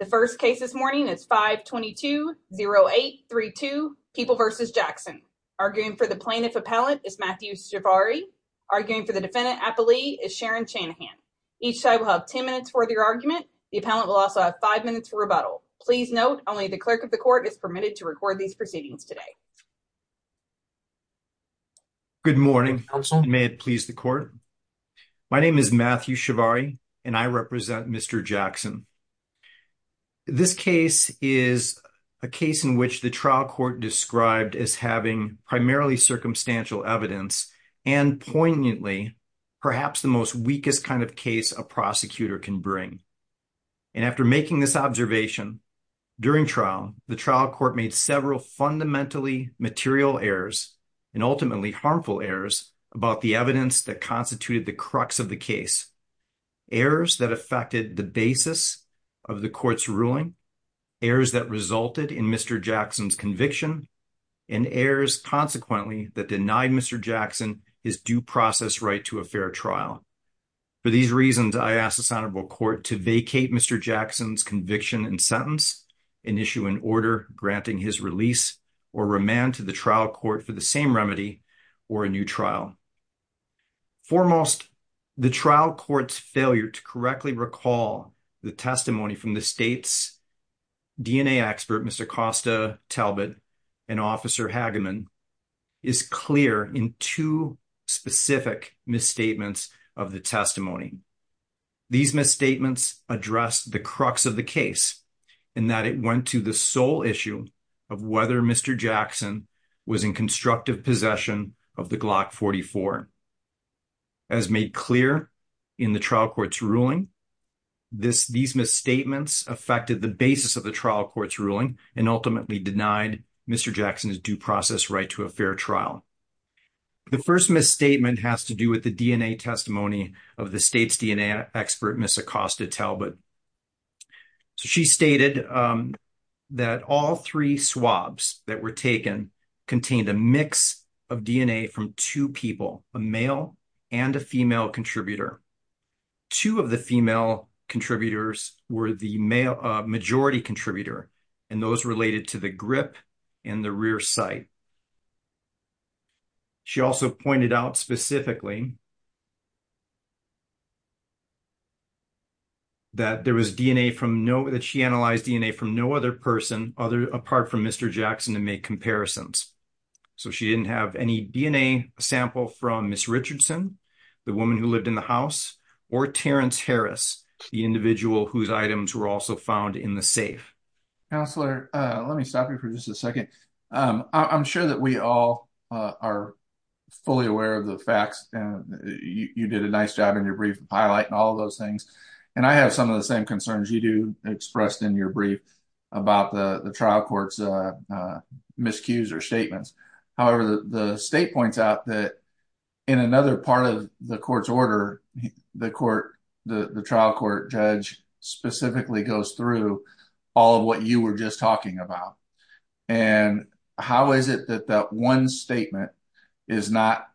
The first case this morning is 522-0832, People v. Jackson. Arguing for the plaintiff appellant is Matthew Shavari. Arguing for the defendant, Appalee, is Sharon Chanahan. Each side will have 10 minutes for their argument. The appellant will also have five minutes for rebuttal. Please note, only the clerk of the court is permitted to record these proceedings today. Good morning. May it please the court? My name is Matthew Shavari and I represent Mr. Jackson. This case is a case in which the trial court described as having primarily circumstantial evidence and poignantly, perhaps the most weakest kind of case a prosecutor can bring. And after making this observation, during trial, the trial court made several fundamentally material errors and ultimately harmful errors about the evidence that constituted the crux of the case. Errors that affected the basis of the court's ruling, errors that resulted in Mr. Jackson's conviction, and errors, consequently, that denied Mr. Jackson his due process right to a fair trial. For these reasons, I ask the Senate will court to vacate Mr. Jackson's conviction and sentence and issue an order granting his release or remand to the trial court for the same remedy or a new trial. Foremost, the trial court's failure to correctly recall the testimony from the state's DNA expert, Mr. Costa Talbot and Officer Hageman is clear in two specific misstatements of the testimony. These misstatements address the crux of the case and that it went to the sole issue of whether Mr. Jackson was in constructive possession of the Glock 44. As made clear in the trial court's ruling, these misstatements affected the basis of the trial court's ruling and ultimately denied Mr. Jackson's due process right to a fair trial. The first misstatement has to do with the DNA testimony of the state's DNA expert, Ms. Acosta Talbot. She stated that all three swabs that were taken contained a mix of DNA from two people, a male and a female contributor. Two of the female contributors were the majority contributor and those related to the grip in the rear sight. She also pointed out specifically that there was DNA from no, that she analyzed DNA from no other person apart from Mr. Jackson to make comparisons. So she didn't have any DNA sample from Ms. Richardson, the woman who lived in the house, or Terrence Harris, the individual whose items were also found in the safe. Counselor, let me stop you for just a second. I'm sure that we all are fully aware of the facts, and you did a nice job in your brief highlight and all those things, and I have some of the same concerns you do expressed in your brief about the trial court's miscues or statements. However, the state points out that in another part of the court's order, the trial court judge specifically goes through all of what you were just talking about. And how is it that that one statement is not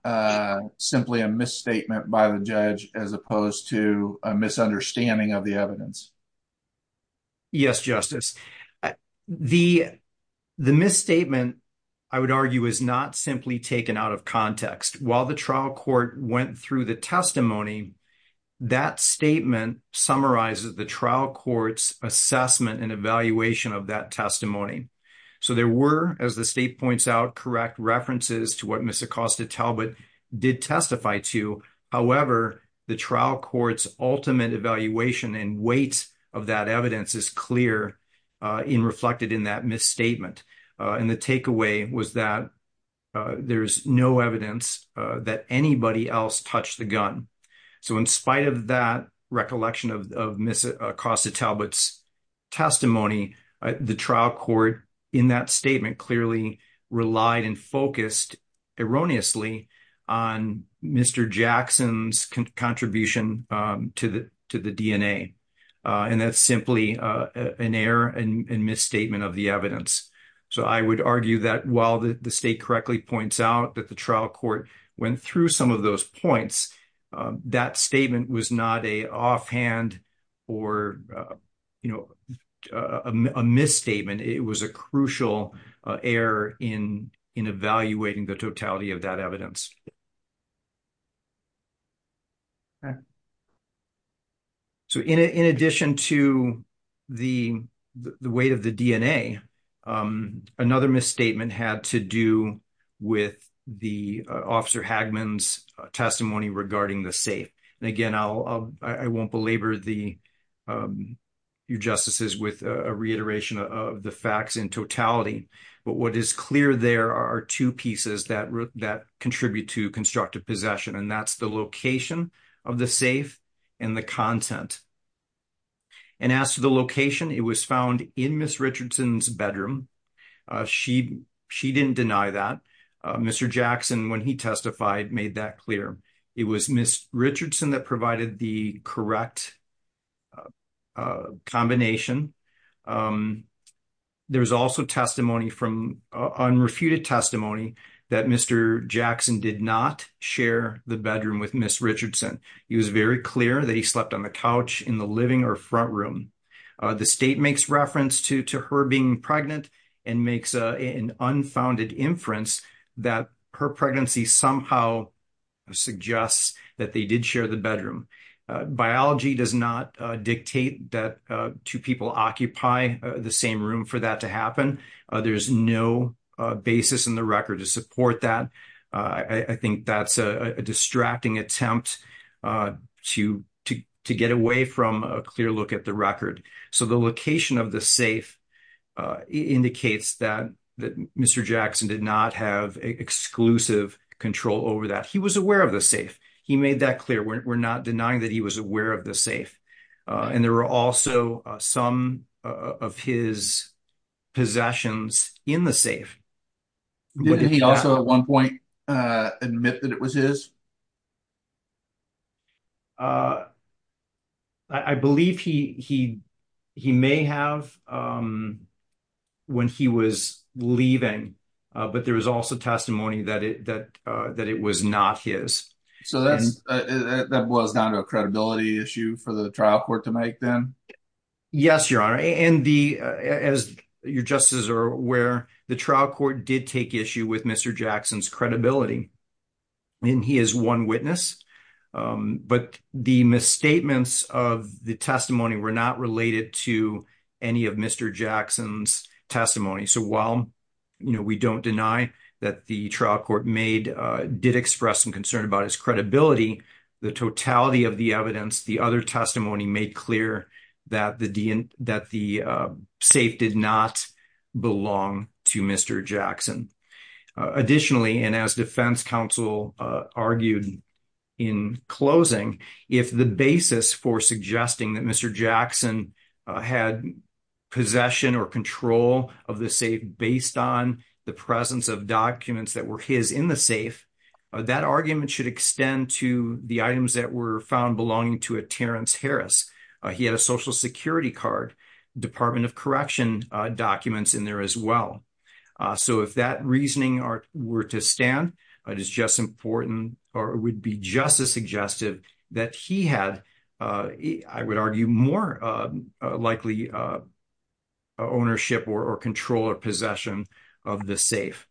simply a misstatement by the judge as opposed to a misunderstanding of the evidence? Yes, Justice. The misstatement, I would argue, is not simply taken out of context. While the trial court went through the testimony, that statement summarizes the trial court's assessment and evaluation of that testimony. So there were, as the state points out, correct references to what Ms. Acosta Talbot did testify to. However, the trial court's ultimate evaluation and weight of that evidence is clear and reflected in that misstatement. And the takeaway was that there's no evidence that anybody else touched the gun. So in spite of that recollection of Ms. Acosta Talbot's testimony, the trial court in that statement clearly relied and focused erroneously on Mr. Jackson's contribution to the DNA. And that's simply an error and misstatement of the evidence. So I would argue that while the state correctly points out that the trial court went through some of those points, that statement was not an offhand or a misstatement. It was a crucial error in evaluating the totality of that evidence. So in addition to the weight of the DNA, another misstatement had to do with the Officer Hagman's testimony regarding the safe. And again, I won't belabor the justices with a reiteration of the facts in totality. But what is clear there are two pieces that contribute to constructive possession, and that's the location of the safe and the content. And as to the location, it was found in Ms. Richardson's bedroom. She didn't deny that. Mr. Jackson, when he testified, made that clear. It was Ms. Richardson that provided the correct combination. There's also unrefuted testimony that Mr. Jackson did not share the bedroom with Ms. Richardson. It was very clear that he slept on the couch in the living or front room. The state makes reference to her being pregnant and makes an unfounded inference that her pregnancy somehow suggests that they did share the bedroom. Biology does not dictate that two people occupy the same room for that to happen. There's no basis in the record to support that. I think that's a distracting attempt to get away from a clear look at the record. So the location of the safe indicates that Mr. Jackson did not have exclusive control over that. He was aware of the safe. He made that clear. We're not denying that he was aware of the safe. And there were also some of his possessions in the safe. Did he also at one point admit that it was his? I believe he he he may have when he was leaving, but there was also testimony that it that that it was not his. So that's that was not a credibility issue for the trial court to make them. Yes, Your Honor, and the as your justices are aware, the trial court did take issue with Mr. Jackson's credibility. And he is one witness, but the misstatements of the testimony were not related to any of Mr. Jackson's testimony. So while we don't deny that the trial court made did express some concern about his credibility, the totality of the evidence, the other testimony made clear that the that the safe did not belong to Mr. Jackson. Additionally, and as defense counsel argued in closing, if the basis for suggesting that Mr. Jackson had possession or control of the safe based on the presence of documents that were his in the safe, that argument should extend to the items that were found belonging to a Terrence Harris. He had a Social Security card, Department of Correction documents in there as well. So if that reasoning were to stand, it is just important or would be just as suggestive that he had, I would argue, more likely ownership or control or possession of the safe.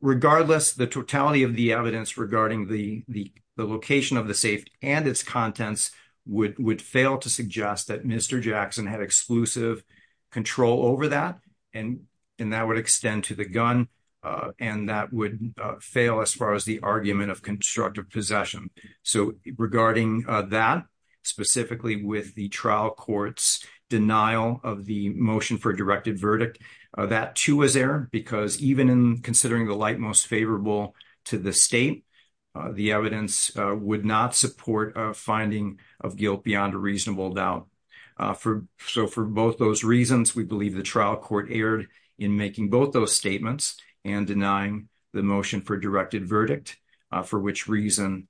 Regardless, the totality of the evidence regarding the location of the safe and its contents would fail to suggest that Mr. Jackson had exclusive control over that and that would extend to the gun. And that would fail as far as the argument of constructive possession. So regarding that, specifically with the trial court's denial of the motion for a directed verdict, that, too, was there because even in considering the light most favorable to the state, the evidence would not support a finding of guilt beyond a reasonable doubt for. So for both those reasons, we believe the trial court erred in making both those statements and denying the motion for directed verdict, for which reason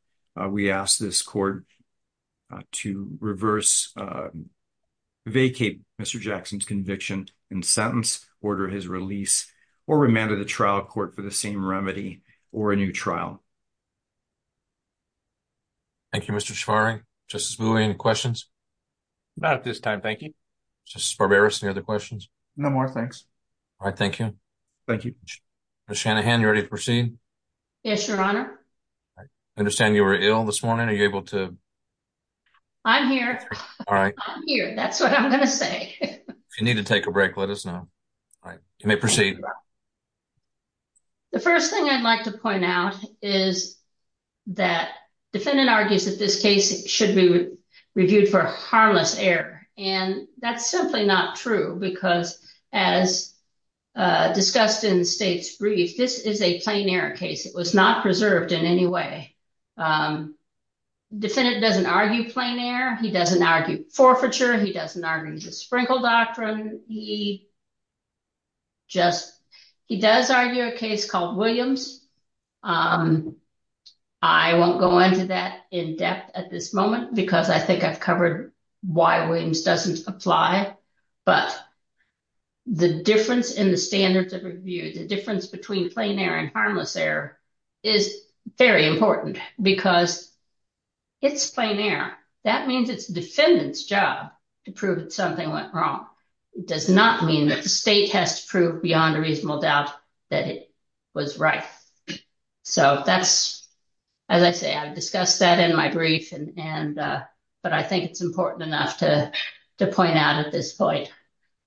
we ask this court to reverse, vacate Mr. Jackson's conviction and sentence, order his release or remanded the trial court for the same remedy or a new trial. Thank you, Mr. Shafari. Justice Bowie, any questions? Not at this time, thank you. Justice Barberis, any other questions? No more, thanks. All right, thank you. Thank you. Ms. Shanahan, you ready to proceed? Yes, Your Honor. I understand you were ill this morning. Are you able to? I'm here. All right. I'm here, that's what I'm going to say. If you need to take a break, let us know. All right, you may proceed. The first thing I'd like to point out is that defendant argues that this case should be reviewed for harmless error. And that's simply not true, because as discussed in the state's brief, this is a plain error case. It was not preserved in any way. Defendant doesn't argue plain error. He doesn't argue forfeiture. He doesn't argue the Sprinkle Doctrine. He just he does argue a case called Williams. I won't go into that in depth at this moment, because I think I've covered why Williams doesn't apply. But the difference in the standards of review, the difference between plain error and harmless error is very important, because it's plain error. That means it's defendant's job to prove that something went wrong. It does not mean that the state has to prove beyond a reasonable doubt that it was right. So that's, as I say, I've discussed that in my brief. And but I think it's important enough to to point out at this point.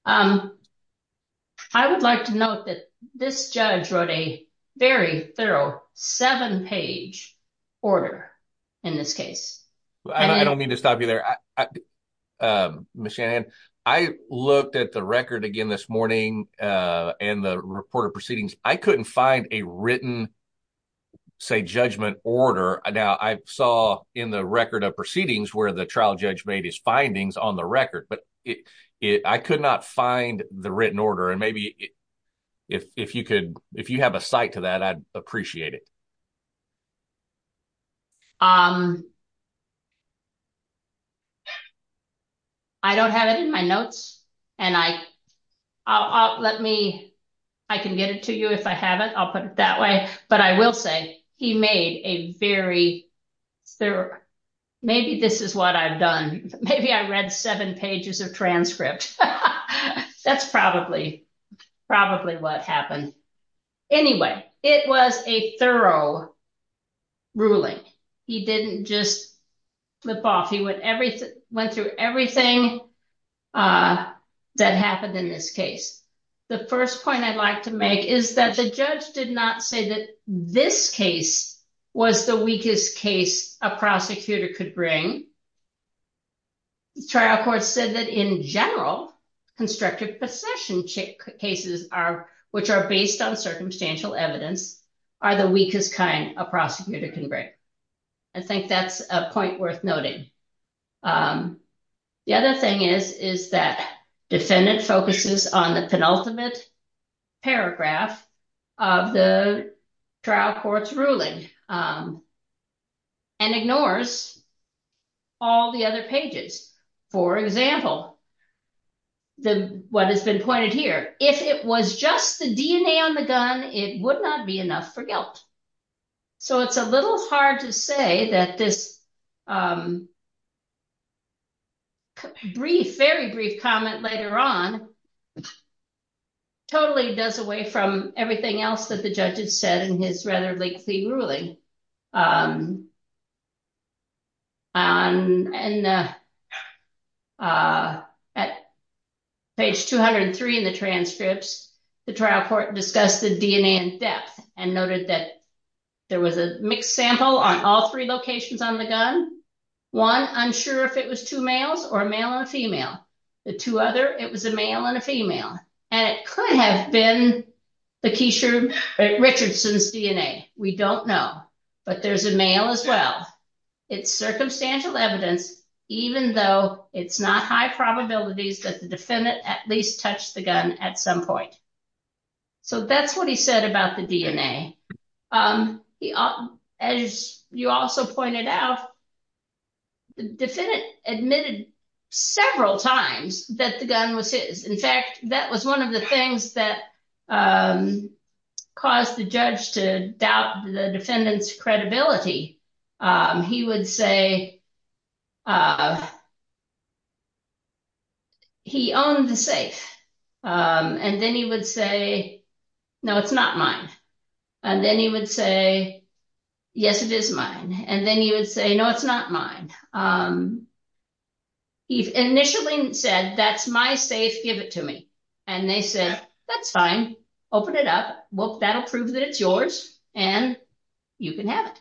I would like to note that this judge wrote a very thorough seven page order in this case. I don't mean to stop you there. I looked at the record again this morning and the report of proceedings. I couldn't find a written, say, judgment order. Now, I saw in the record of proceedings where the trial judge made his findings on the record. But I could not find the written order. And maybe if you could if you have a site to that, I'd appreciate it. I don't have it in my notes and I I'll let me I can get it to you if I have it. I'll put it that way. But I will say he made a very thorough. Maybe this is what I've done. Maybe I read seven pages of transcript. That's probably probably what happened. Anyway, it was a thorough ruling. He didn't just flip off. He would everything went through everything that happened in this case. The first point I'd like to make is that the judge did not say that this case was the weakest case a prosecutor could bring. The trial court said that in general, constructive possession cases are which are based on circumstantial evidence are the weakest kind a prosecutor can bring. I think that's a point worth noting. The other thing is, is that defendant focuses on the penultimate paragraph of the trial court's ruling and ignores all the other pages. For example, the what has been pointed here, if it was just the DNA on the gun, it would not be enough for guilt. So it's a little hard to say that this. Brief, very brief comment later on. Totally does away from everything else that the judges said in his rather lengthy ruling. And at page 203 in the transcripts, the trial court discussed the DNA in depth and noted that there was a mixed sample on all three locations on the gun. One, I'm sure if it was two males or male or female, the two other, it was a male and a female. And it could have been the Keisha Richardson's DNA. We don't know. But there's a male as well. It's circumstantial evidence, even though it's not high probabilities that the defendant at least touched the gun at some point. So that's what he said about the DNA. As you also pointed out. The defendant admitted several times that the gun was his. In fact, that was one of the things that caused the judge to doubt the defendant's credibility. He would say. He owned the safe and then he would say, no, it's not mine. And then he would say, yes, it is mine. And then he would say, no, it's not mine. He initially said, that's my safe. Give it to me. And they said, that's fine. Open it up. Well, that'll prove that it's yours and you can have it.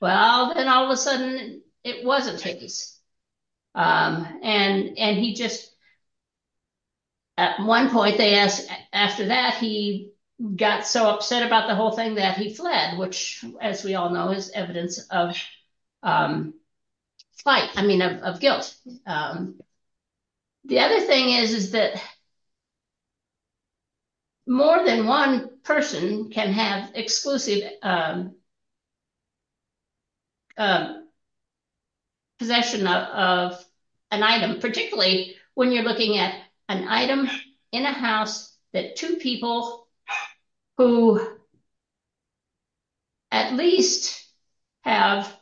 Well, then all of a sudden it wasn't his. And he just. At one point, they asked after that, he got so upset about the whole thing that he fled, which, as we all know, is evidence of guilt. The other thing is, is that more than one person can have exclusive possession of an item, particularly when you're looking at an item in a house that two people who. At least have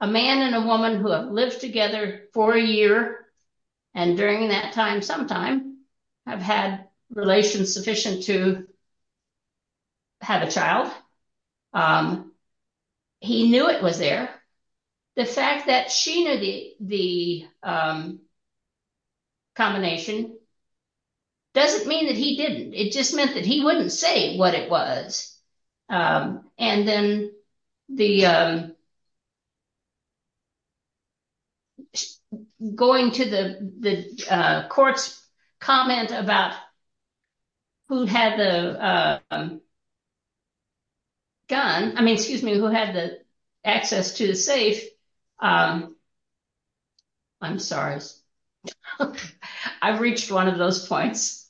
a man and a woman who have lived together for a year. And during that time, sometime I've had relations sufficient to. Have a child. He knew it was there. The fact that she knew the combination. Doesn't mean that he didn't. It just meant that he wouldn't say what it was. And then the. Going to the courts comment about. Who had the. Gun, I mean, excuse me, who had the access to the safe. I'm sorry. I've reached one of those points.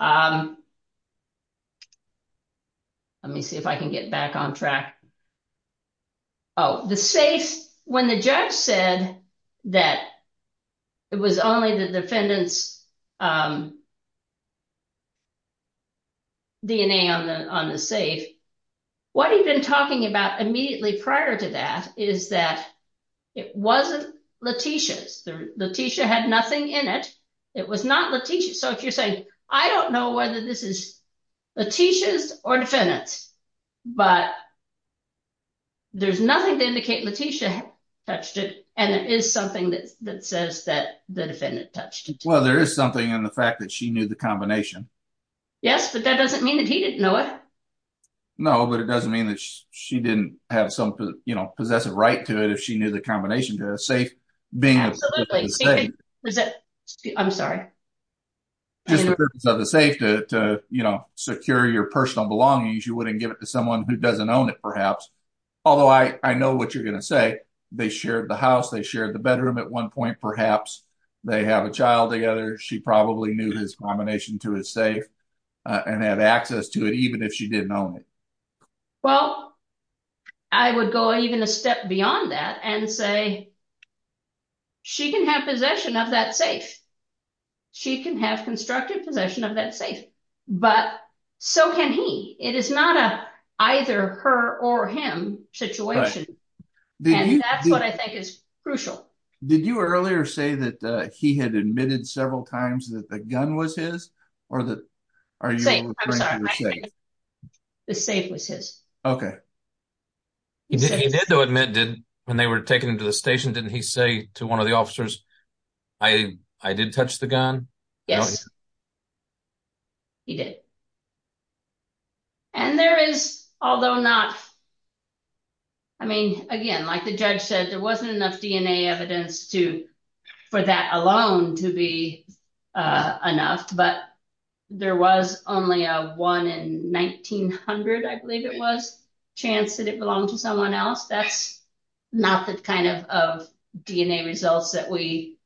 Let me see if I can get back on track. Oh, the safe. When the judge said that it was only the defendants. DNA on the on the safe. What he'd been talking about immediately prior to that is that it wasn't Letitia's. Letitia had nothing in it. It was not Letitia. So if you're saying, I don't know whether this is Letitia's or defendants, but there's nothing to indicate Letitia touched it. And there is something that says that the defendant touched. Well, there is something in the fact that she knew the combination. Yes, but that doesn't mean that he didn't know it. No, but it doesn't mean that she didn't have some possessive right to it if she knew the combination to safe being. I'm sorry. So the safe to secure your personal belongings, you wouldn't give it to someone who doesn't own it, perhaps. Although I know what you're going to say. They shared the house. They shared the bedroom at one point. Perhaps they have a child together. She probably knew his combination to his safe and have access to it, even if she didn't own it. Well, I would go even a step beyond that and say she can have possession of that safe. She can have constructive possession of that safe. But so can he. It is not a either her or him situation. That's what I think is crucial. Did you earlier say that he had admitted several times that the gun was his or the safe? The safe was his. OK. He did, though, admit did when they were taken to the station, didn't he say to one of the officers, I did touch the gun? Yes. He did. And there is, although not. I mean, again, like the judge said, there wasn't enough DNA evidence to for that alone to be enough. But there was only a one in nineteen hundred. I believe it was chance that it belonged to someone else. That's not the kind of DNA results that we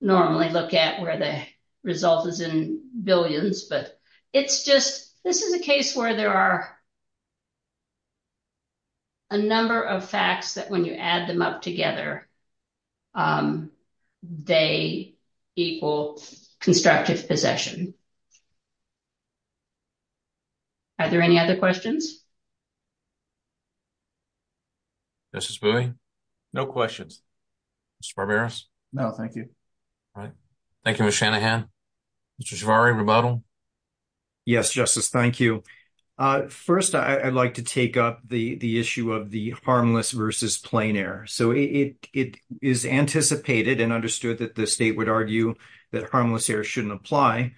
normally look at where the result is in billions. But it's just this is a case where there are. A number of facts that when you add them up together, they equal constructive possession. Are there any other questions? This is really no questions. Barbarous. No, thank you. All right. Thank you. Shanahan, which is very rebuttal. Yes, justice. Thank you. First, I'd like to take up the issue of the harmless versus plain air. So it is anticipated and understood that the state would argue that harmless air shouldn't apply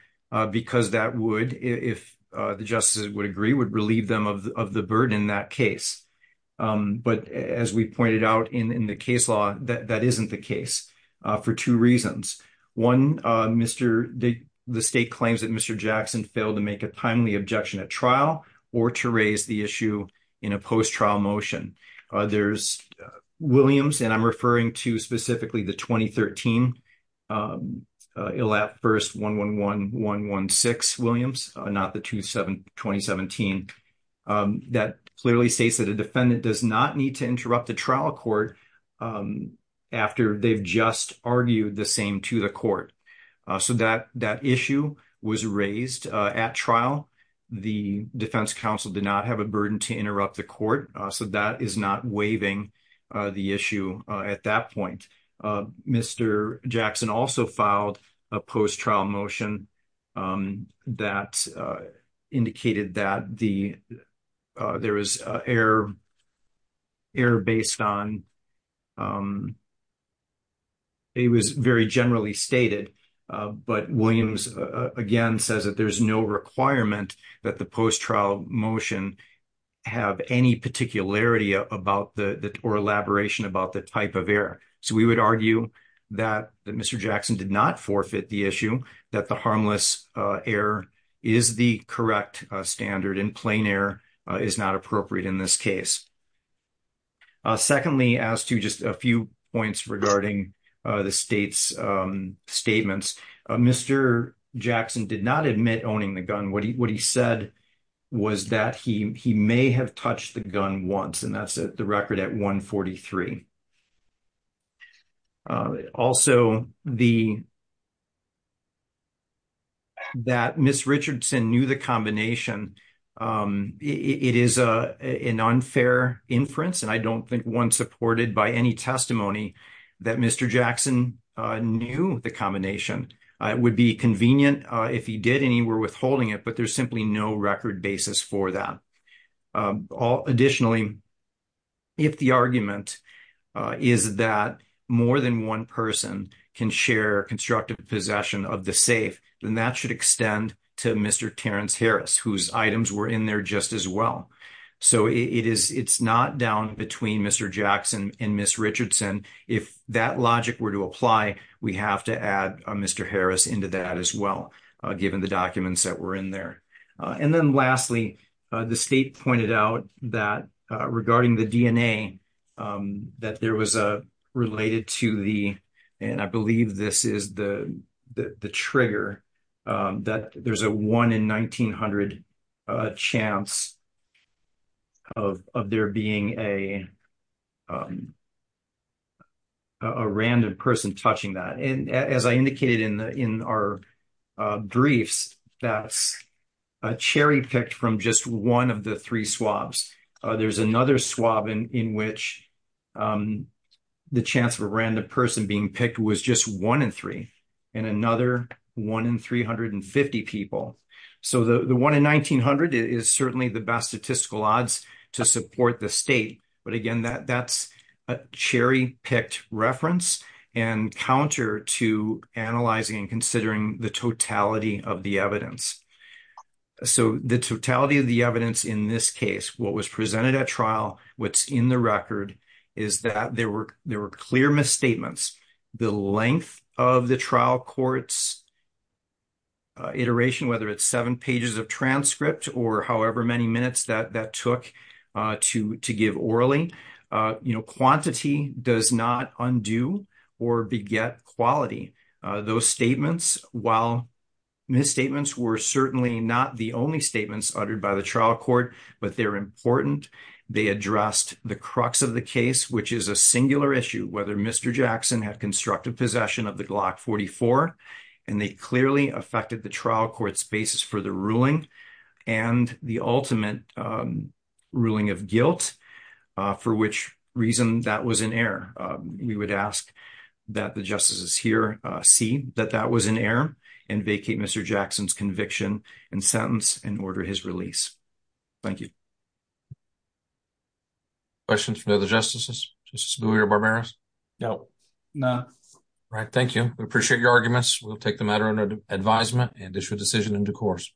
because that would, if the justices would agree, would relieve them of the burden in that case. But as we pointed out in the case law, that isn't the case for two reasons. One, Mr. The state claims that Mr. Jackson failed to make a timely objection at trial or to raise the issue in a post trial motion. There's Williams, and I'm referring to specifically the 2013. It'll at first 111116 Williams, not the 27, 2017. That clearly states that a defendant does not need to interrupt the trial court. After they've just argued the same to the court. So that that issue was raised at trial. The defense counsel did not have a burden to interrupt the court. So that is not waiving the issue. At that point, Mr. Jackson also filed a post trial motion that indicated that the there was air. Air based on. It was very generally stated, but Williams again says that there's no requirement that the post trial motion have any particularity about the or elaboration about the type of air. So we would argue that Mr. Jackson did not forfeit the issue that the harmless air is the correct standard in plain air is not appropriate in this case. Secondly, as to just a few points regarding the state's statements, Mr. Jackson did not admit owning the gun. What he said was that he may have touched the gun once. And that's the record at 143. Also, the. That Miss Richardson knew the combination, it is an unfair inference, and I don't think one supported by any testimony that Mr. Jackson knew the combination would be convenient if he did any were withholding it, but there's simply no record basis for that. Additionally, if the argument is that more than one person can share constructive possession of the safe, then that should extend to Mr. Terrence Harris, whose items were in there just as well. So it is it's not down between Mr. Jackson and Miss Richardson. If that logic were to apply, we have to add Mr. Harris into that as well. Given the documents that were in there. And then lastly, the state pointed out that regarding the DNA, that there was a related to the, and I believe this is the, the trigger that there's a one in 1900 chance of there being a cherry picked from just one of the three swabs. There's another swab in which the chance of a random person being picked was just one in three, and another one in 350 people. So the one in 1900 is certainly the best statistical odds to support the state. But again, that that's a cherry picked reference and counter to analyzing and considering the totality of the evidence. So the totality of the evidence in this case, what was presented at trial, what's in the record is that there were there were clear misstatements. The length of the trial courts iteration, whether it's seven pages of transcript or however many minutes that that took to to give orally, you know, quantity does not undo or beget quality. Those statements, while misstatements were certainly not the only statements uttered by the trial court, but they're important. They addressed the crux of the case, which is a singular issue whether Mr. Jackson had constructive possession of the Glock 44, and they clearly affected the trial courts basis for the ruling, and the ultimate ruling of guilt, for which reason that was an error. We would ask that the justices here see that that was an error and vacate Mr. Jackson's conviction and sentence and order his release. Thank you. Questions from other justices? Justice Bowie or Barberos? No. No. Right. Thank you. We appreciate your arguments. We'll take the matter under advisement and issue a decision in due course.